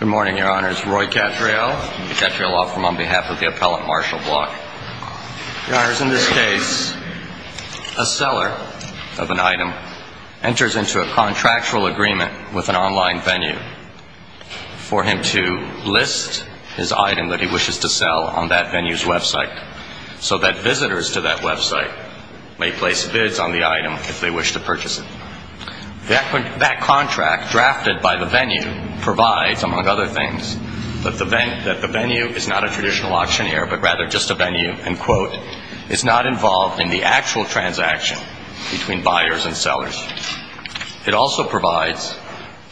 Good morning, Your Honors. Roy Cattrall, Cattrall Law Firm, on behalf of the Appellant Marshall Block. Your Honors, in this case, a seller of an item enters into a contractual agreement with an online venue for him to list his item that he wishes to sell on that venue's website, so that visitors to that website may place bids on the item if they wish to purchase it. That contract, drafted by the venue, provides, among other things, that the venue is not a traditional auctioneer, but rather just a venue, and quote, is not involved in the actual transaction between buyers and sellers. It also provides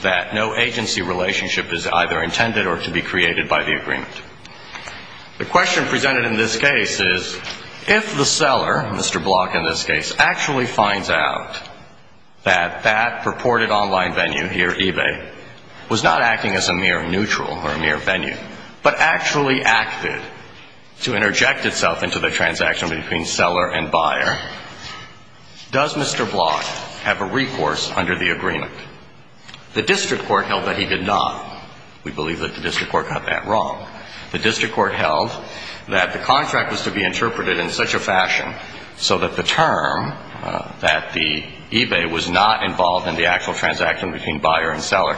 that no agency relationship is either intended or to be created by the agreement. The question presented in this case is, if the seller, Mr. Block in this case, actually finds out that that purported online venue here, Ebay, was not acting as a mere neutral or a mere venue, but actually acted to interject itself into the transaction between seller and buyer, does Mr. Block have a recourse under the agreement? The district court held that he did not. We believe that the district court got that wrong. The district court held that the contract was to be interpreted in such a fashion so that the term that the Ebay was not involved in the actual transaction between buyer and seller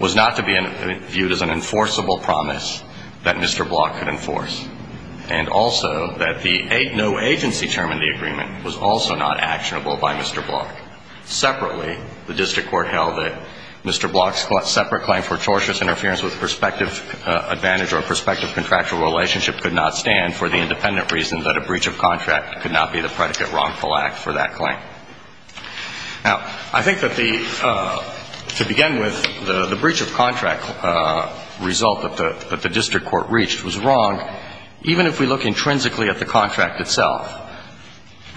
was not to be viewed as an enforceable promise that Mr. Block could enforce, and also that the no agency term in the agreement was also not actionable by Mr. Block. Separately, the district court held that Mr. Block's separate claim for torturous interference with prospective advantage or prospective contractual relationship could not stand for the independent reason that a breach of contract could not be the predicate wrongful act for that claim. Now, I think that the, to begin with, the breach of contract result that the district court reached was wrong, even if we look intrinsically at the contract itself.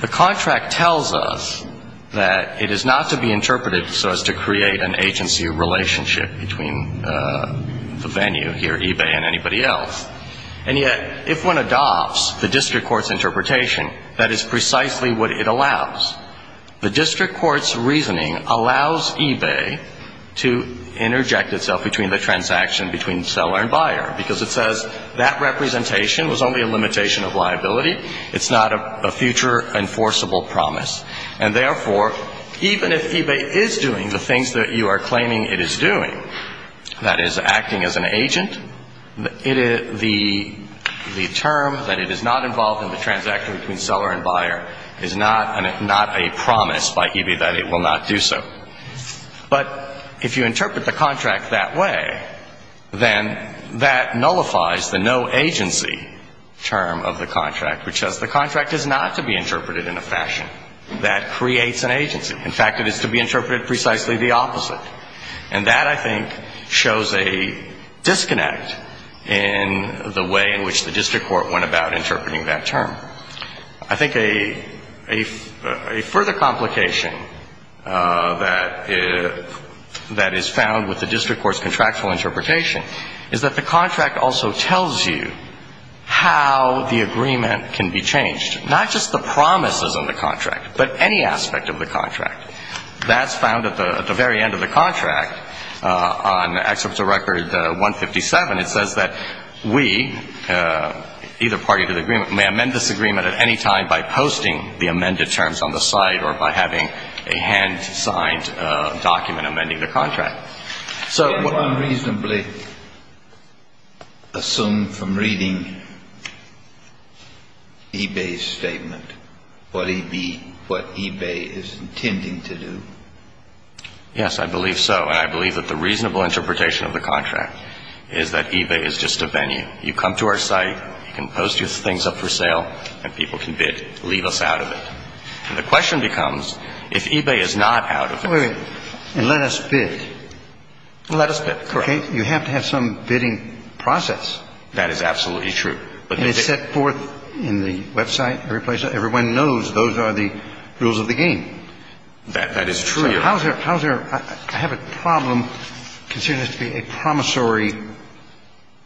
The contract tells us that it is not to be interpreted so as to create an agency relationship between the venue here, Ebay, and anybody else, and yet if one adopts the district court's interpretation, that is precisely what it allows. The district court's reasoning allows Ebay to interject itself between the transaction between seller and buyer because it says that representation was only a limitation of liability. It's not a future enforceable promise, and therefore, even if Ebay is doing the things that you are claiming it is doing, that is, acting as an agent, the term that it is not involved in the transaction between seller and buyer is not a promise by Ebay that it will not do so. But if you interpret the contract that way, then that nullifies the no agency term of the contract, which says the contract is not to be interpreted in a fashion that creates an agency. In fact, it is to be interpreted precisely the opposite. And that, I think, shows a disconnect in the way in which the district court went about interpreting that term. I think a further complication that is found with the district court's contractual interpretation is that the contract also tells you how the agreement can be changed, not just the promises in the contract, but any aspect of the contract. That's found at the very end of the contract. On Excerpt to Record 157, it says that we, either party to the agreement, may amend this agreement at any time by posting the amended terms on the site or by having a hand-signed document amending the contract. Can one reasonably assume from reading Ebay's statement what Ebay is intending to do? Yes, I believe so. And I believe that the reasonable interpretation of the contract is that Ebay is just a venue. You come to our site, you can post your things up for sale, and people can bid to leave us out of it. And the question becomes, if Ebay is not out of it. Wait a minute. And let us bid. Let us bid, correct. You have to have some bidding process. That is absolutely true. And it's set forth in the website, every place. Everyone knows those are the rules of the game. That is true. So how is there – I have a problem considering this to be a promissory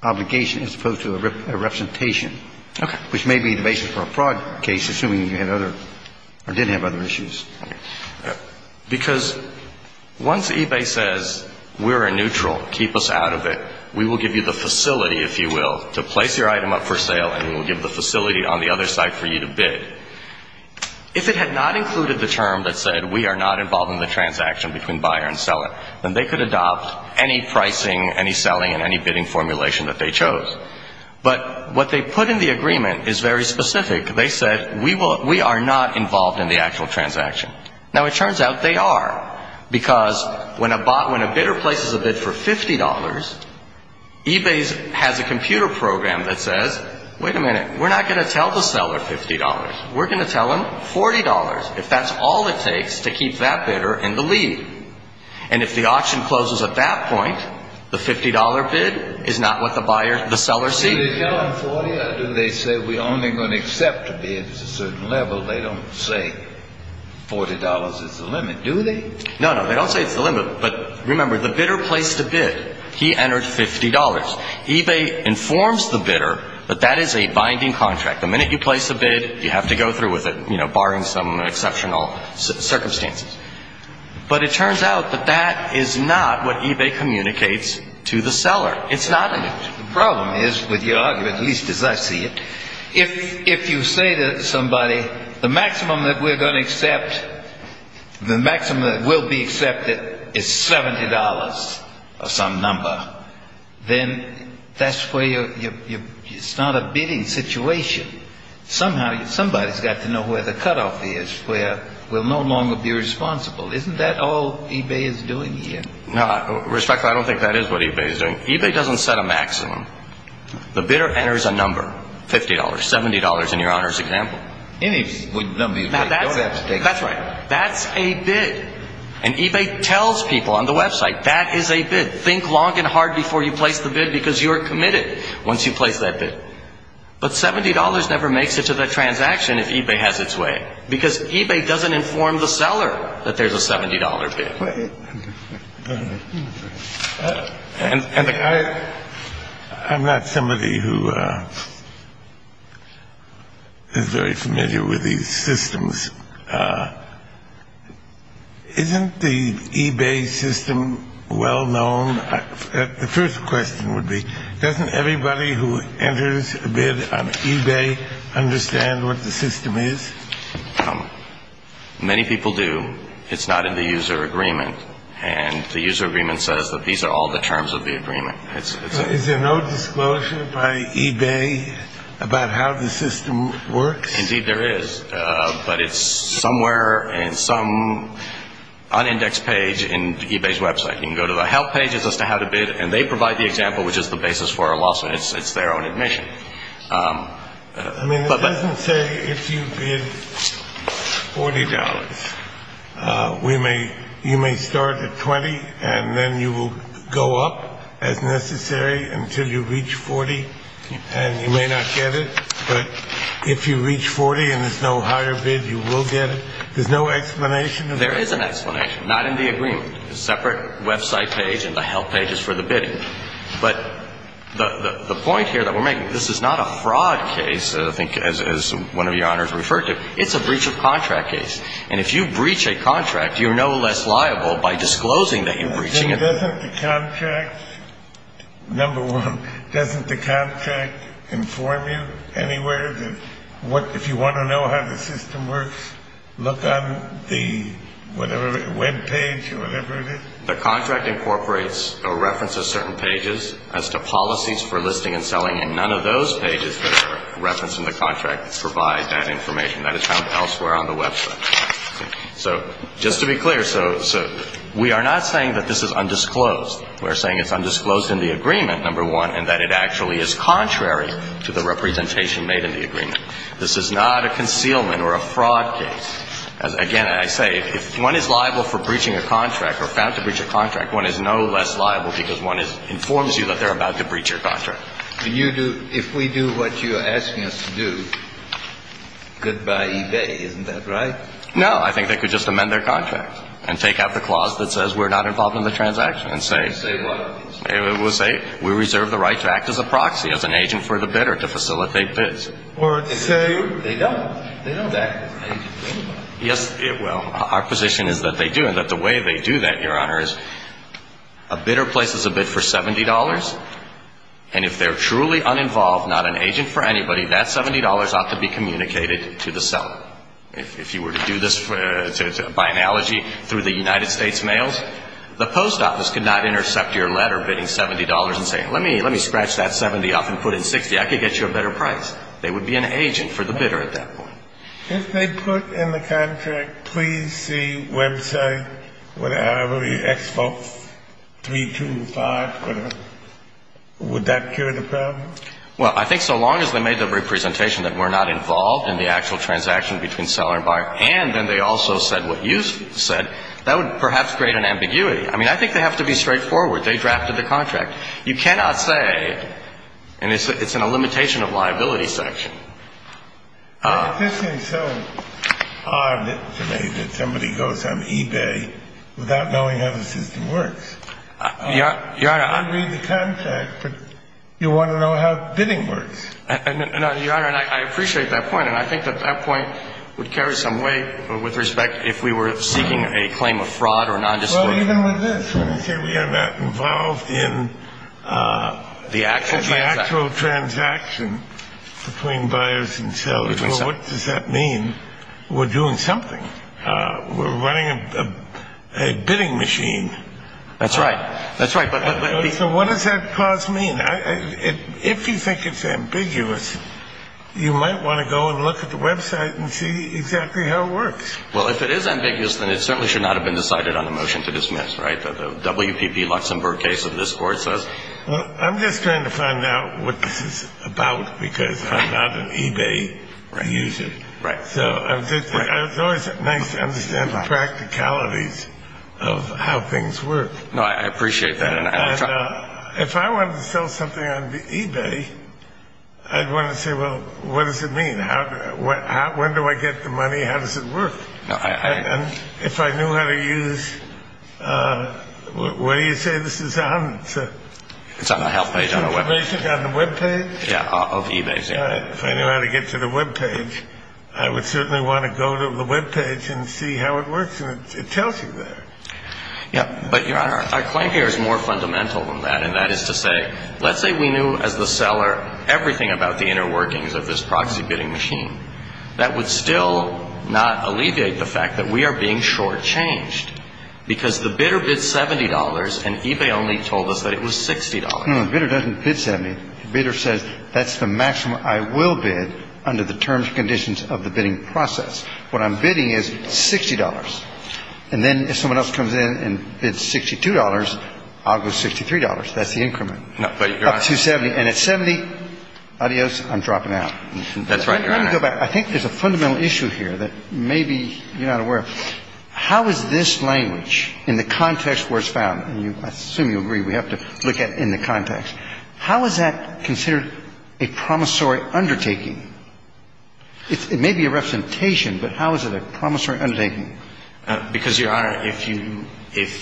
obligation as opposed to a representation. Okay. Which may be the basis for a fraud case, assuming you had other – or didn't have other issues. Because once Ebay says, we're a neutral, keep us out of it, we will give you the facility, if you will, to place your item up for sale, and we will give the facility on the other side for you to bid. If it had not included the term that said, we are not involved in the transaction between buyer and seller, then they could adopt any pricing, any selling, and any bidding formulation that they chose. But what they put in the agreement is very specific. They said, we are not involved in the actual transaction. Now, it turns out they are. Because when a bidder places a bid for $50, Ebay has a computer program that says, wait a minute, we're not going to tell the seller $50. We're going to tell them $40, if that's all it takes to keep that bidder in the lead. And if the auction closes at that point, the $50 bid is not what the buyer – the seller sees. Do they tell them $40, or do they say, we're only going to accept a bid at a certain level? They don't say $40 is the limit, do they? No, no, they don't say it's the limit. But remember, the bidder placed a bid. He entered $50. Ebay informs the bidder that that is a binding contract. The minute you place a bid, you have to go through with it, you know, barring some exceptional circumstances. But it turns out that that is not what Ebay communicates to the seller. It's not. The problem is, with your argument, at least as I see it, if you say to somebody, the maximum that we're going to accept, the maximum that will be accepted is $70 or some number, then that's where you start a bidding situation. Somehow, somebody's got to know where the cutoff is, where we'll no longer be responsible. Isn't that all Ebay is doing here? Respectfully, I don't think that is what Ebay is doing. Ebay doesn't set a maximum. The bidder enters a number, $50, $70, in your Honor's example. That's right. That's a bid. And Ebay tells people on the website, that is a bid. Think long and hard before you place the bid, because you are committed once you place that bid. But $70 never makes it to the transaction if Ebay has its way, because Ebay doesn't inform the seller that there's a $70 bid. And I'm not somebody who is very familiar with these systems. Isn't the Ebay system well known? The first question would be, doesn't everybody who enters a bid on Ebay understand what the system is? Many people do. It's not in the user agreement. And the user agreement says that these are all the terms of the agreement. Is there no disclosure by Ebay about how the system works? Indeed, there is. But it's somewhere in some unindexed page in Ebay's website. You can go to the help pages as to how to bid. And they provide the example, which is the basis for our lawsuit. It's their own admission. I mean, it doesn't say if you bid $40, you may start at $20, and then you will go up as necessary until you reach $40. And you may not get it. But if you reach $40 and there's no higher bid, you will get it. There's no explanation? There is an explanation. Not in the agreement. There's a separate website page, and the help page is for the bidding. But the point here that we're making, this is not a fraud case, I think, as one of Your Honors referred to. It's a breach of contract case. And if you breach a contract, you're no less liable by disclosing that you're breaching it. Doesn't the contract, number one, doesn't the contract inform you anywhere that if you want to know how the system works, look on the whatever web page or whatever it is? The contract incorporates a reference of certain pages as to policies for listing and selling, and none of those pages that are referenced in the contract provide that information. That is found elsewhere on the website. So just to be clear, so we are not saying that this is undisclosed. We're saying it's undisclosed in the agreement, number one, This is not a concealment or a fraud case. Again, I say, if one is liable for breaching a contract or found to breach a contract, one is no less liable because one informs you that they're about to breach your contract. If we do what you're asking us to do, good-bye eBay, isn't that right? No. I think they could just amend their contract and take out the clause that says we're not involved in the transaction and say we reserve the right to act as a proxy, as an agent for the bidder, to facilitate bids. Or say they don't. They don't act as an agent for anybody. Yes, well, our position is that they do, and that the way they do that, Your Honor, is a bidder places a bid for $70, and if they're truly uninvolved, not an agent for anybody, that $70 ought to be communicated to the seller. If you were to do this by analogy through the United States mails, the post office could not intercept your letter bidding $70 and say, let me scratch that $70 off and put in $60. I could get you a better price. They would be an agent for the bidder at that point. If they put in the contract, please see website, whatever, the expo, 325, would that cure the problem? Well, I think so long as they made the representation that we're not involved in the actual transaction between seller and buyer, and then they also said what you said, that would perhaps create an ambiguity. I mean, I think they have to be straightforward. They drafted the contract. You cannot say, and it's in a limitation of liability section. Why does this seem so odd to me that somebody goes on eBay without knowing how the system works? Your Honor, I'm going to read the contract, but you want to know how bidding works. No, Your Honor, and I appreciate that point, and I think that that point would carry some weight with respect if we were seeking a claim of fraud or nondisclosure. Well, even with this, when they say we are not involved in the actual transaction between buyers and sellers, well, what does that mean? We're doing something. We're running a bidding machine. That's right. That's right. So what does that clause mean? If you think it's ambiguous, you might want to go and look at the website and see exactly how it works. Well, if it is ambiguous, then it certainly should not have been decided on a motion to dismiss, right? The WPP Luxembourg case of this Court says. Well, I'm just trying to find out what this is about because I'm not an eBay user. Right. So it's always nice to understand the practicalities of how things work. No, I appreciate that. And if I wanted to sell something on eBay, I'd want to say, well, what does it mean? When do I get the money? How does it work? And if I knew how to use – what do you say this is on? It's on the help page on our web page. Information on the web page? Yeah, of eBay. All right. If I knew how to get to the web page, I would certainly want to go to the web page and see how it works. And it tells you that. Yeah. But, Your Honor, our claim here is more fundamental than that. Let's say we knew as the seller everything about the inner workings of this proxy bidding machine. That would still not alleviate the fact that we are being shortchanged because the bidder bid $70 and eBay only told us that it was $60. No, the bidder doesn't bid $70. The bidder says that's the maximum I will bid under the terms and conditions of the bidding process. What I'm bidding is $60. And then if someone else comes in and bids $62, I'll go $63. That's the increment. No, but, Your Honor. Up to $70. And at $70, adios, I'm dropping out. That's right, Your Honor. Let me go back. I think there's a fundamental issue here that maybe you're not aware of. How is this language, in the context where it's found – and I assume you agree we have to look at it in the context – how is that considered a promissory undertaking? It may be a representation, but how is it a promissory undertaking? Because, Your Honor, if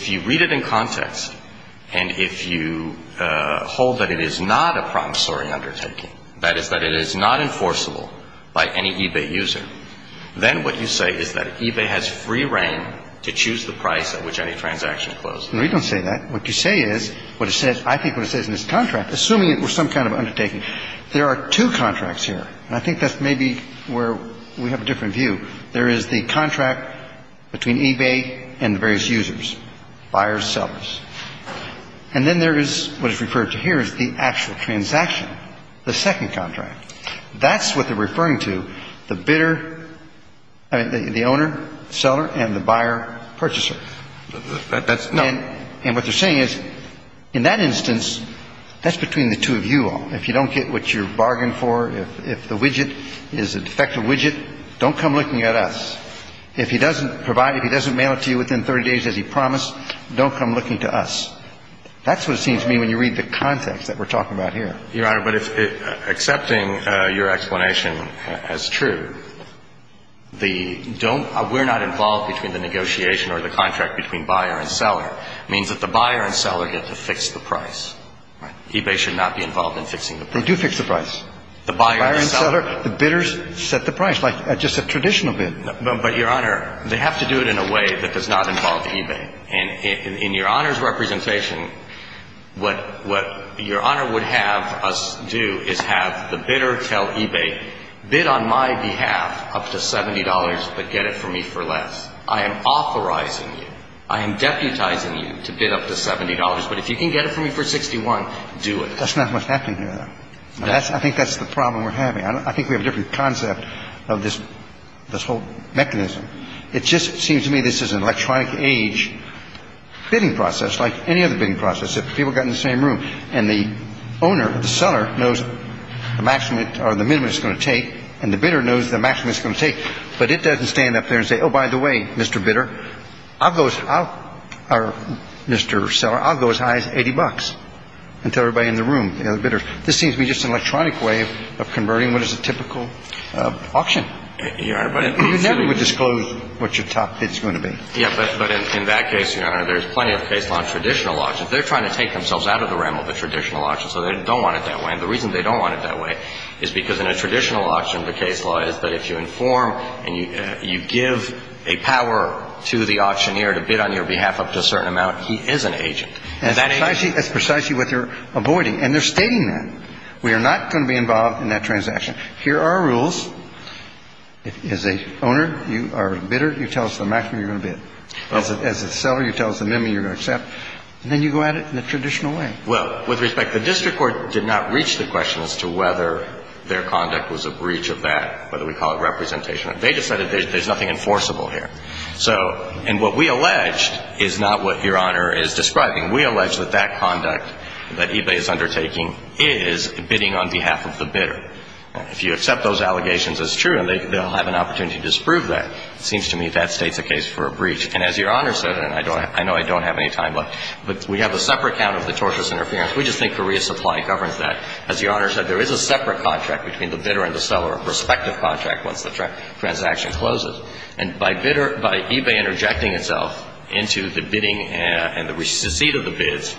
you read it in context and if you hold that it is not a promissory undertaking, that is, that it is not enforceable by any eBay user, then what you say is that eBay has free reign to choose the price at which any transaction closes. No, you don't say that. What you say is what it says – I think what it says in this contract, assuming it were some kind of undertaking – there are two contracts here, and I think that's maybe where we have a different view. There is the contract between eBay and the various users, buyers, sellers. And then there is what is referred to here as the actual transaction, the second contract. That's what they're referring to, the bidder – I mean, the owner, seller, and the buyer, purchaser. That's – no. And what they're saying is, in that instance, that's between the two of you all. If you don't get what you bargained for, if the widget is a defective widget, don't come looking at us. If he doesn't provide – if he doesn't mail it to you within 30 days as he promised, don't come looking to us. That's what it seems to me when you read the context that we're talking about here. Your Honor, but if – accepting your explanation as true, the don't – we're not involved between the negotiation or the contract between buyer and seller means that the buyer and seller get to fix the price. Right. And eBay should not be involved in fixing the price. They do fix the price. The buyer and seller. The buyer and seller. The bidders set the price, like just a traditional bid. But, Your Honor, they have to do it in a way that does not involve eBay. And in your Honor's representation, what your Honor would have us do is have the bidder tell eBay, bid on my behalf up to $70, but get it from me for less. I am authorizing you. I am deputizing you to bid up to $70. But if you can get it from me for $61, do it. That's not what's happening here, though. I think that's the problem we're having. I think we have a different concept of this whole mechanism. It just seems to me this is an electronic age bidding process like any other bidding process. If people got in the same room and the owner or the seller knows the maximum or the minimum it's going to take and the bidder knows the maximum it's going to take, but it doesn't stand up there and say, oh, by the way, Mr. Bidder, I'll go as high as $80 and tell everybody in the room, the other bidders. This seems to me just an electronic way of converting what is a typical auction. You're right. But you never would disclose what your top bid is going to be. Yeah. But in that case, Your Honor, there's plenty of case law on traditional auctions. They're trying to take themselves out of the realm of the traditional auction, so they don't want it that way. And the reason they don't want it that way is because in a traditional auction, the case law is that if you inform and you give a power to the auctioneer to bid on your behalf up to a certain amount, he is an agent. And that agent... That's precisely what you're avoiding. And they're stating that. We are not going to be involved in that transaction. Here are our rules. As an owner, you are a bidder. You tell us the maximum you're going to bid. As a seller, you tell us the minimum you're going to accept. And then you go at it in the traditional way. Well, with respect, the district court did not reach the question as to whether their conduct was a breach of that, whether we call it representation. They just said there's nothing enforceable here. So, and what we alleged is not what Your Honor is describing. We allege that that conduct that eBay is undertaking is bidding on behalf of the bidder. If you accept those allegations as true, they'll have an opportunity to disprove that. It seems to me that states a case for a breach. And as Your Honor said, and I know I don't have any time left, but we have a separate count of the tortious interference, we just think Korea Supply governs that. As Your Honor said, there is a separate contract between the bidder and the seller, a prospective contract once the transaction closes. And by bidder, by eBay interjecting itself into the bidding and the receipt of the bids,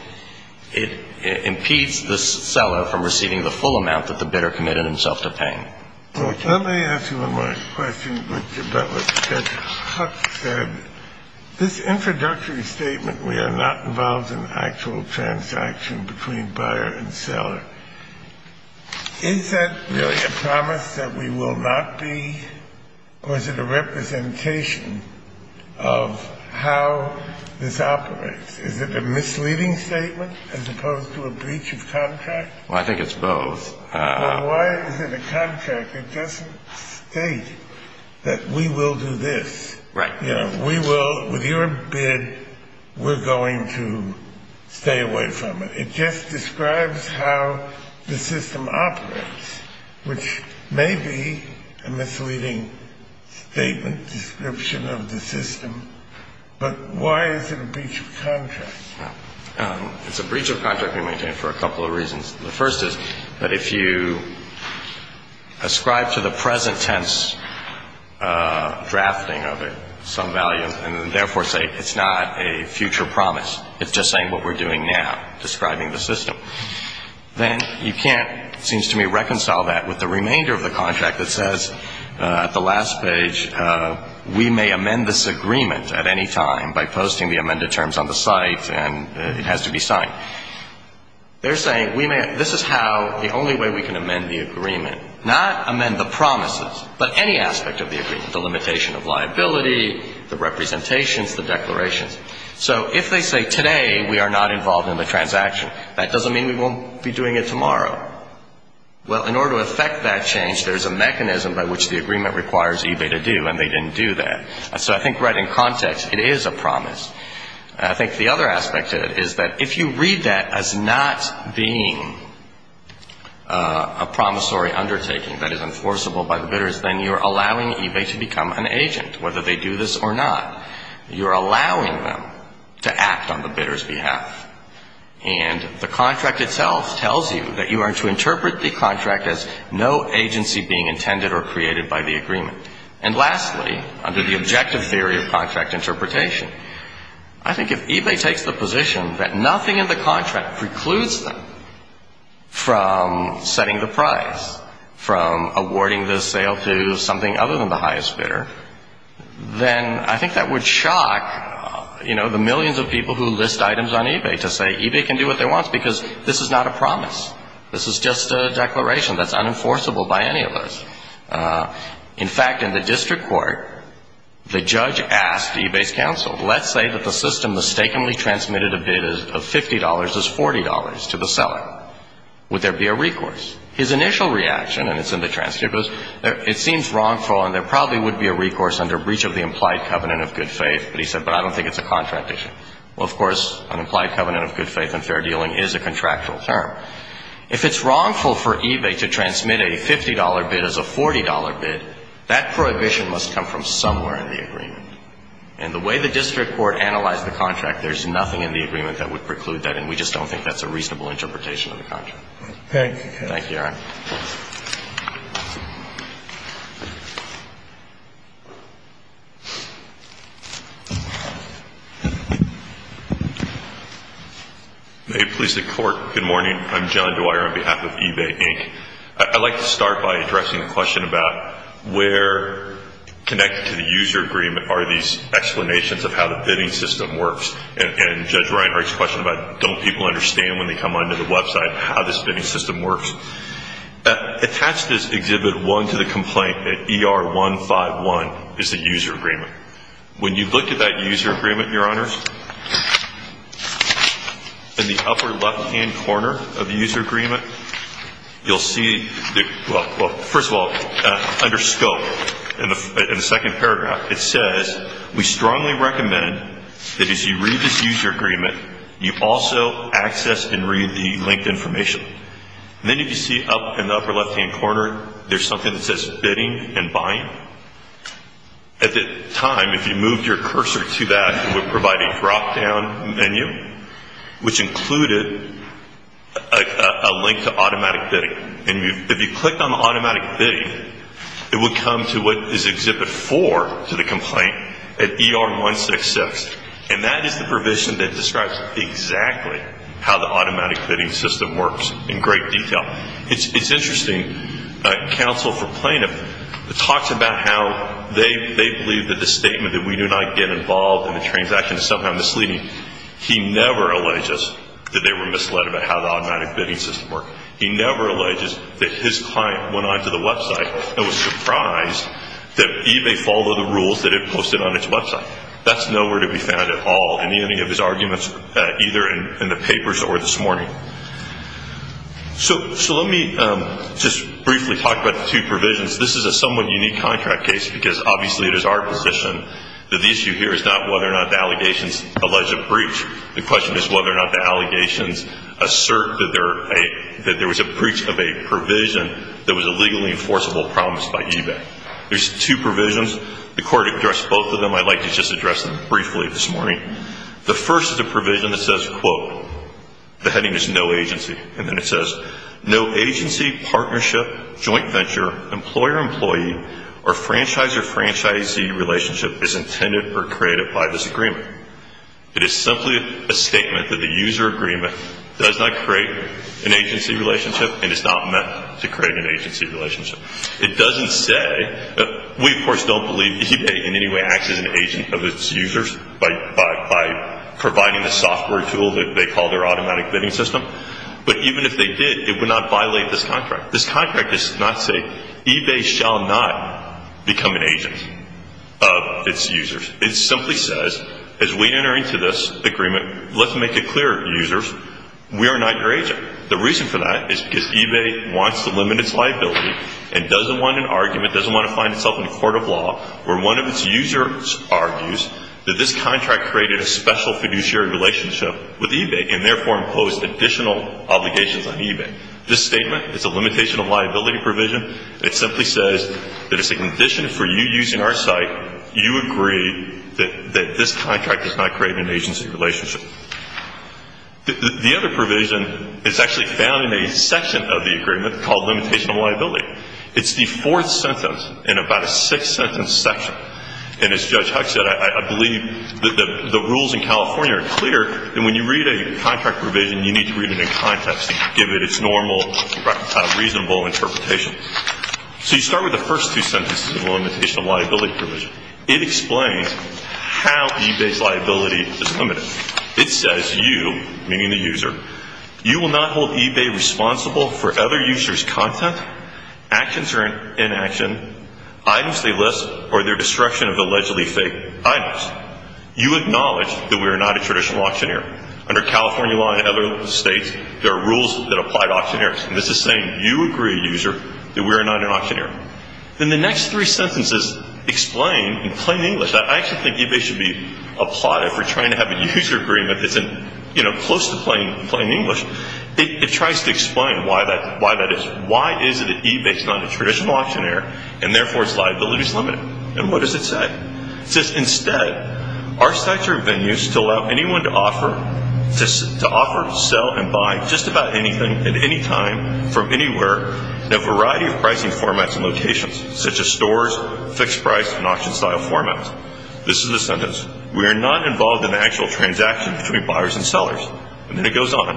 it impedes the seller from receiving the full amount that the bidder committed himself to paying. Let me ask you one more question about what Judge Huck said. This introductory statement, we are not involved in actual transaction between buyer and seller, is that a promise that we will not be, or is it a representation of how this operates? Is it a misleading statement as opposed to a breach of contract? Well, I think it's both. Well, why is it a contract? It doesn't state that we will do this. Right. You know, we will, with your bid, we're going to stay away from it. It just describes how the system operates, which may be a misleading statement, description of the system. But why is it a breach of contract? It's a breach of contract we maintain for a couple of reasons. The first is that if you ascribe to the present tense drafting of it some value and therefore say it's not a future promise, it's just saying what we're doing now, describing the system, then you can't, it seems to me, reconcile that with the remainder of the contract that says at the last page, we may amend this agreement at any time by posting the amended terms on the site and it has to be signed. They're saying we may, this is how, the only way we can amend the agreement, not amend the promises, but any aspect of the agreement, the limitation of liability, the representations, the declarations. So if they say today we are not involved in the transaction, that doesn't mean we won't be doing it tomorrow. Well, in order to effect that change, there's a mechanism by which the agreement requires eBay to do, and they didn't do that. So I think right in context, it is a promise. I think the other aspect of it is that if you read that as not being a promissory undertaking that is enforceable by the bidders, then you're allowing eBay to become an agent, whether they do this or not. You're allowing them to act on the bidder's behalf. And the contract itself tells you that you are to interpret the contract as no agency being intended or created by the agreement. And lastly, under the objective theory of contract interpretation, I think if eBay takes the position that nothing in the contract precludes them from setting the price, from awarding the sale to something other than the highest bidder, then I think that would shock, you know, the millions of people who list items on eBay to say eBay can do what they want because this is not a promise. This is just a declaration that's unenforceable by any of us. In fact, in the district court, the judge asked eBay's counsel, let's say that the system mistakenly transmitted a bid of $50 as $40 to the seller. Would there be a recourse? His initial reaction, and it's in the transcript, was it seems wrongful and there probably would be a recourse under breach of the implied covenant of good faith. But he said, but I don't think it's a contract issue. Well, of course, an implied covenant of good faith and fair dealing is a contractual term. If it's wrongful for eBay to transmit a $50 bid as a $40 bid, that prohibition must come from somewhere in the agreement. And the way the district court analyzed the contract, there's nothing in the agreement that would preclude that, and we just don't think that's a reasonable interpretation of the contract. Thank you. Thank you, Your Honor. May it please the Court. Good morning. I'm John Dwyer on behalf of eBay, Inc. I'd like to start by addressing a question about where connected to the user agreement are these explanations of how the bidding system works. And Judge Reinhardt's question about don't people understand when they come onto the website how the bidding system works. Attached is Exhibit 1 to the complaint that ER151 is the user agreement. When you look at that user agreement, Your Honors, in the upper left-hand corner of the user agreement, you'll see, well, first of all, under scope in the second paragraph, it says, we strongly recommend that as you read this user agreement, you also access and read the linked information. And then if you see up in the upper left-hand corner, there's something that says bidding and buying. At the time, if you moved your cursor to that, it would provide a drop-down menu, which included a link to automatic bidding. And if you clicked on automatic bidding, it would come to what is Exhibit 4 to the complaint at ER166, and that is the provision that describes exactly how the automatic bidding system works in great detail. It's interesting, counsel for plaintiff talks about how they believe that the statement that we do not get involved in the transaction is somehow misleading. He never alleges that they were misled about how the automatic bidding system works. He never alleges that his client went onto the website and was surprised that eBay followed the rules that it posted on its website. That's nowhere to be found at all in any of his arguments, either in the papers or this morning. So let me just briefly talk about the two provisions. This is a somewhat unique contract case, because obviously it is our position that the issue here is not whether or not the allegations allege a breach. The question is whether or not the allegations assert that there was a breach of a provision that was a legally enforceable promise by eBay. There's two provisions. The court addressed both of them. I'd like to just address them briefly this morning. The first is a provision that says, quote, the heading is no agency, and then it says no agency, partnership, joint venture, employer-employee, or franchisor-franchisee relationship is intended or created by this agreement. It is simply a statement that the user agreement does not create an agency relationship and is not meant to create an agency relationship. It doesn't say that we, of course, don't believe eBay in any way acts as an agent of its users by providing a software tool that they call their automatic bidding system. But even if they did, it would not violate this contract. This contract does not say eBay shall not become an agent of its users. It simply says, as we enter into this agreement, let's make it clear, users, we are not your agent. The reason for that is because eBay wants to limit its liability and doesn't want an argument, doesn't want to find itself in a court of law where one of its users argues that this contract created a special fiduciary relationship with eBay and therefore imposed additional obligations on eBay. This statement is a limitation of liability provision. It simply says that it's a condition for you using our site, you agree that this contract does not create an agency relationship. The other provision is actually found in a section of the agreement called limitation of liability. It's the fourth sentence in about a six-sentence section. And as Judge Huck said, I believe that the rules in California are clear that when you read a contract provision, you need to read it in context and give it its normal, reasonable interpretation. So you start with the first two sentences of limitation of liability provision. It explains how eBay's liability is limited. It says you, meaning the user, you will not hold eBay responsible for other users' content, actions or inaction, items they list, or their destruction of allegedly fake items. You acknowledge that we are not a traditional auctioneer. Under California law and other states, there are rules that apply to auctioneers. And this is saying you agree, user, that we are not an auctioneer. Then the next three sentences explain in plain English. I actually think eBay should be applauded for trying to have a user agreement that's close to plain English. It tries to explain why that is. Why is it that eBay is not a traditional auctioneer and therefore its liability is limited? And what does it say? It says instead, our sites are venues to allow anyone to offer, sell, and buy just about anything at any time from anywhere in a variety of pricing formats and locations, such as stores, fixed price, and auction style formats. This is the sentence. We are not involved in the actual transaction between buyers and sellers. And then it goes on.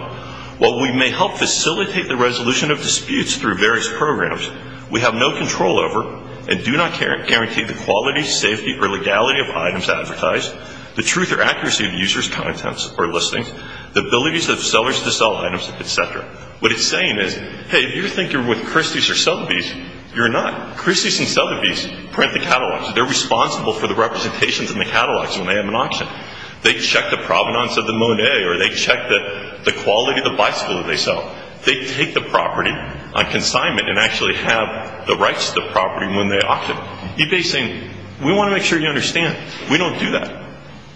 While we may help facilitate the resolution of disputes through various programs, we have no control over and do not guarantee the quality, safety, or legality of items advertised, the truth or accuracy of users' contents or listings, the abilities of sellers to sell items, et cetera. What it's saying is, hey, if you think you're with Christie's or Sotheby's, you're not. Christie's and Sotheby's print the catalogs. They're responsible for the representations in the catalogs when they have an auction. They check the provenance of the Monet or they check the quality of the bicycle that they sell. They take the property on consignment and actually have the rights to the property when they auction. eBay is saying, we want to make sure you understand. We don't do that.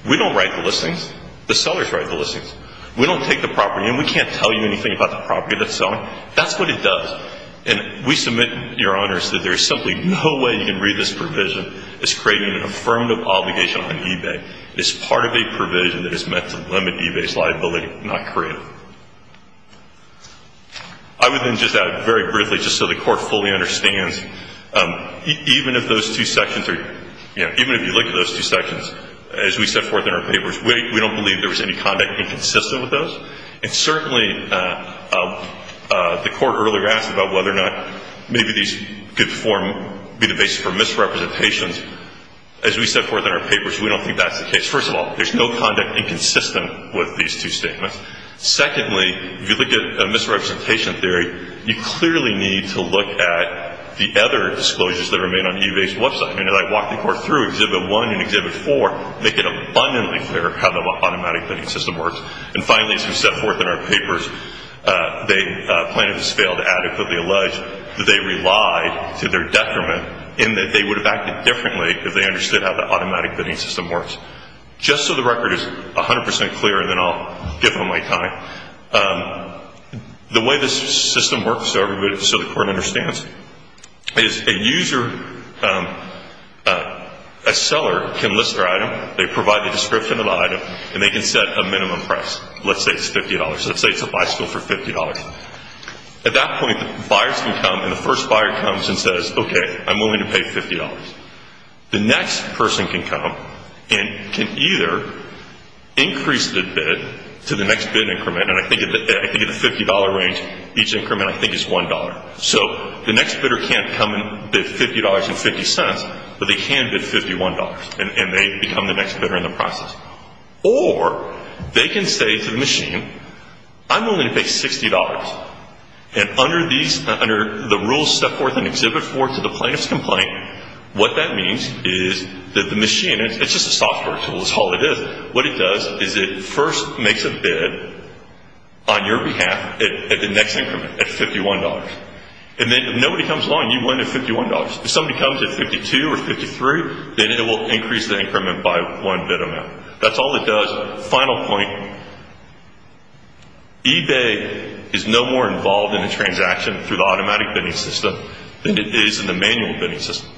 We don't write the listings. The sellers write the listings. We don't take the property in. We can't tell you anything about the property that's selling. That's what it does. And we submit, Your Honors, that there is simply no way you can read this provision as creating an affirmative obligation on eBay. It's part of a provision that is meant to limit eBay's liability, not create it. I would then just add very briefly, just so the Court fully understands, even if those two sections are, you know, even if you look at those two sections, as we set forth in our papers, we don't believe there was any conduct inconsistent with those. And certainly the Court earlier asked about whether or not maybe these could form, be the basis for misrepresentations. As we set forth in our papers, we don't think that's the case. First of all, there's no conduct inconsistent with these two statements. Secondly, if you look at misrepresentation theory, you clearly need to look at the other disclosures that are made on eBay's website. And as I walk the Court through Exhibit 1 and Exhibit 4, make it abundantly clear how the automatic bidding system works. And finally, as we set forth in our papers, plaintiffs failed to adequately allege that they relied to their detriment in that they would have acted differently if they understood how the automatic bidding system works. Just so the record is 100 percent clear, and then I'll give them my time, the way this system works, so the Court understands, is a seller can list their item, they provide the description of the item, and they can set a minimum price. Let's say it's $50. Let's say it's a bicycle for $50. At that point, buyers can come, and the first buyer comes and says, okay, I'm willing to pay $50. The next person can come and can either increase the bid to the next bid increment, and I think in the $50 range, each increment I think is $1. So the next bidder can't come and bid $50.50, but they can bid $51, and they become the next bidder in the process. Or they can say to the machine, I'm willing to pay $60. And under the rules set forth in Exhibit 4 to the plaintiff's complaint, what that means is that the machine, it's just a software tool, that's all it is, what it does is it first makes a bid on your behalf at the next increment at $51. And then if nobody comes along, you win at $51. If somebody comes at $52 or $53, then it will increase the increment by one bid amount. That's all it does. Final point. eBay is no more involved in the transaction through the automatic bidding system than it is in the manual bidding system.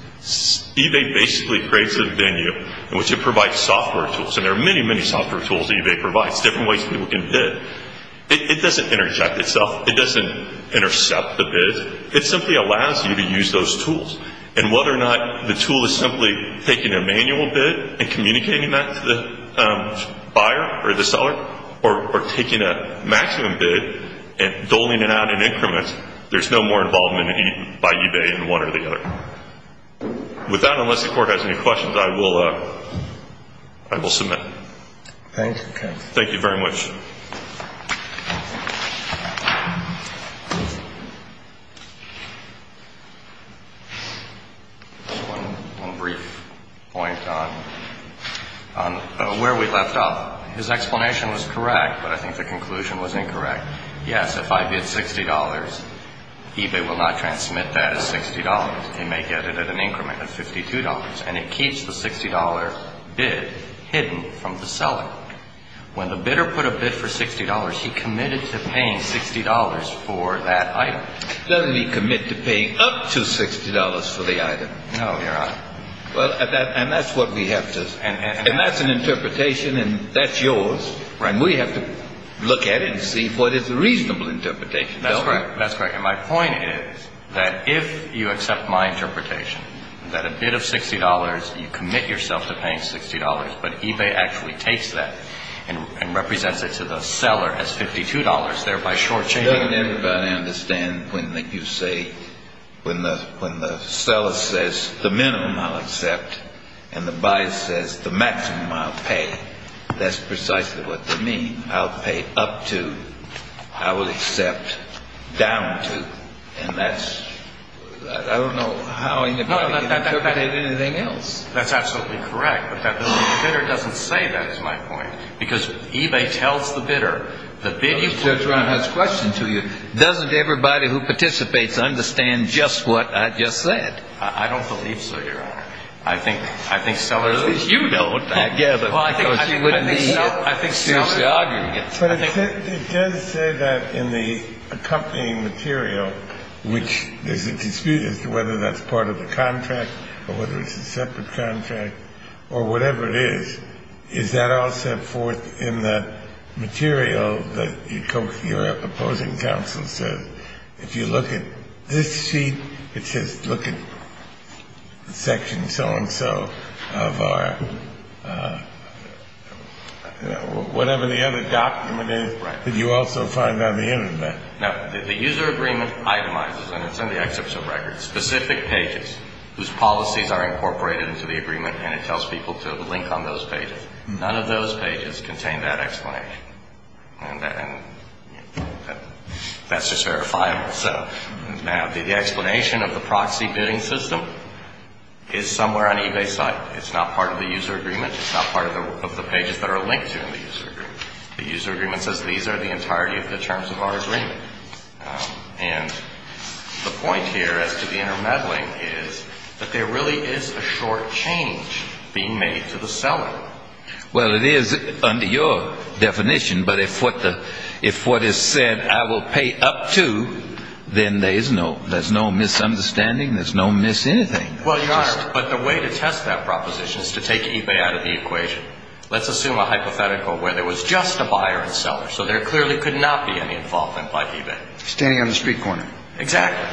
eBay basically creates a venue in which it provides software tools. And there are many, many software tools that eBay provides, different ways people can bid. It doesn't intercept itself. It doesn't intercept the bid. It simply allows you to use those tools. And whether or not the tool is simply taking a manual bid and communicating that to the buyer or the seller, or taking a maximum bid and doling it out in increments, there's no more involvement by eBay in one or the other. With that, unless the Court has any questions, I will submit. Thank you. Thank you very much. One brief point on where we left off. His explanation was correct, but I think the conclusion was incorrect. Yes, if I bid $60, eBay will not transmit that as $60. It may get it at an increment of $52. And it keeps the $60 bid hidden from the seller. When the bidder put a bid for $60, he committed to paying $60 for that item. Doesn't he commit to paying up to $60 for the item? No, Your Honor. Well, and that's what we have to. And that's an interpretation, and that's yours. And we have to look at it and see if what is a reasonable interpretation. That's correct. And my point is that if you accept my interpretation, that a bid of $60, you commit yourself to paying $60, but eBay actually takes that and represents it to the seller as $52, thereby short-changing it. I understand when you say when the seller says the minimum I'll accept and the buyer says the maximum I'll pay. That's precisely what they mean. I'll pay up to. I will accept down to. And that's – I don't know how anybody can interpret anything else. That's absolutely correct. But the bidder doesn't say that, is my point. Because eBay tells the bidder the bid you put. Judge Brown has a question to you. Doesn't everybody who participates understand just what I just said? I don't believe so, Your Honor. I think sellers like you don't. Well, I think sellers argue against it. But it does say that in the accompanying material, which there's a dispute as to whether that's part of the contract or whether it's a separate contract or whatever it is, is that all set forth in the material that your opposing counsel says? If you look at this sheet, it says look at section so-and-so of our – whatever the other document is that you also find on the Internet. No. The user agreement itemizes, and it's in the excerpts of records, specific pages whose policies are incorporated into the agreement, and it tells people to link on those pages. None of those pages contain that explanation. And that's just verifiable. Now, the explanation of the proxy bidding system is somewhere on eBay's site. It's not part of the user agreement. It's not part of the pages that are linked to the user agreement. The user agreement says these are the entirety of the terms of our agreement. And the point here as to the intermeddling is that there really is a short change being made to the seller. Well, it is under your definition. But if what the – if what is said I will pay up to, then there is no – there's no misunderstanding. There's no mis-anything. Well, Your Honor, but the way to test that proposition is to take eBay out of the equation. Let's assume a hypothetical where there was just a buyer and seller, so there clearly could not be any involvement by eBay. Standing on the street corner. Exactly.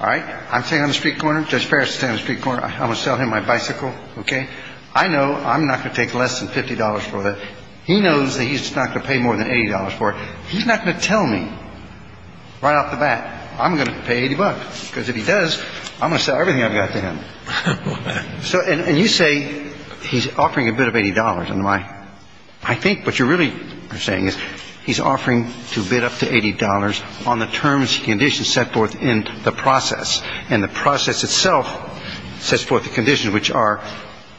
All right. I'm standing on the street corner. Judge Farris is standing on the street corner. I'm going to sell him my bicycle. Okay. I know I'm not going to take less than $50 for that. He knows that he's not going to pay more than $80 for it. He's not going to tell me right off the bat I'm going to pay $80, because if he does, I'm going to sell everything I've got to him. So – and you say he's offering a bid of $80. And my – I think what you really are saying is he's offering to bid up to $80 on the terms, conditions set forth in the process. And the process itself sets forth the conditions, which are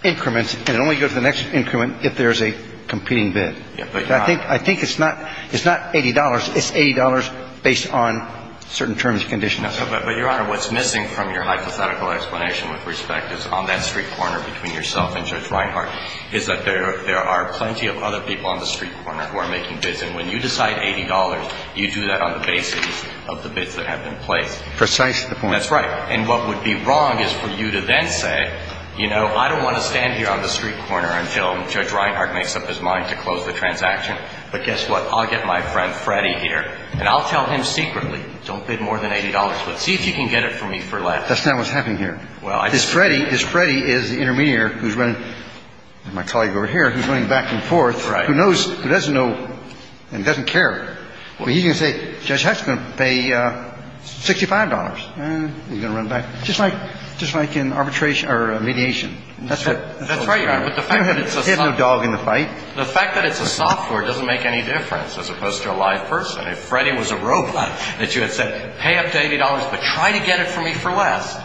increments, and it only goes to the next increment if there's a competing bid. Yeah, but – I think it's not $80. It's $80 based on certain terms and conditions. No, but, Your Honor, what's missing from your hypothetical explanation with respect is on that street corner between yourself and Judge Reinhart is that there are plenty of other people on the street corner who are making bids, and when you decide $80, you do that on the basis of the bids that have been placed. Precisely the point. And that's right. And what would be wrong is for you to then say, you know, I don't want to stand here on the street corner until Judge Reinhart makes up his mind to close the transaction, but guess what? I'll get my friend Freddy here, and I'll tell him secretly, don't bid more than $80, but see if you can get it from me for less. That's not what's happening here. Well, I just – Because Freddy is the intermediary who's running – my colleague over here, who's running back and forth. Right. Who knows – who doesn't know and doesn't care. Well, he's going to say, Judge Hecht's going to pay $65, and he's going to run back. Just like – just like in arbitration – or mediation. That's what – That's right, Your Honor. But the fact that it's a – You don't have to hit no dog in the fight. The fact that it's a software doesn't make any difference as opposed to a live person. If Freddy was a robot, that you had said, pay up to $80, but try to get it from me for less,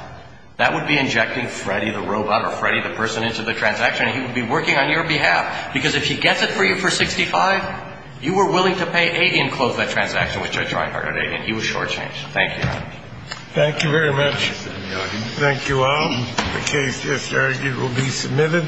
that would be injecting Freddy the robot or Freddy the person into the transaction, and he would be working on your behalf. Because if he gets it for you for $65, you were willing to pay $80 and close that transaction, which I tried hard at $80, and he was shortchanged. Thank you, Your Honor. Thank you very much. Thank you all. The case just argued will be submitted.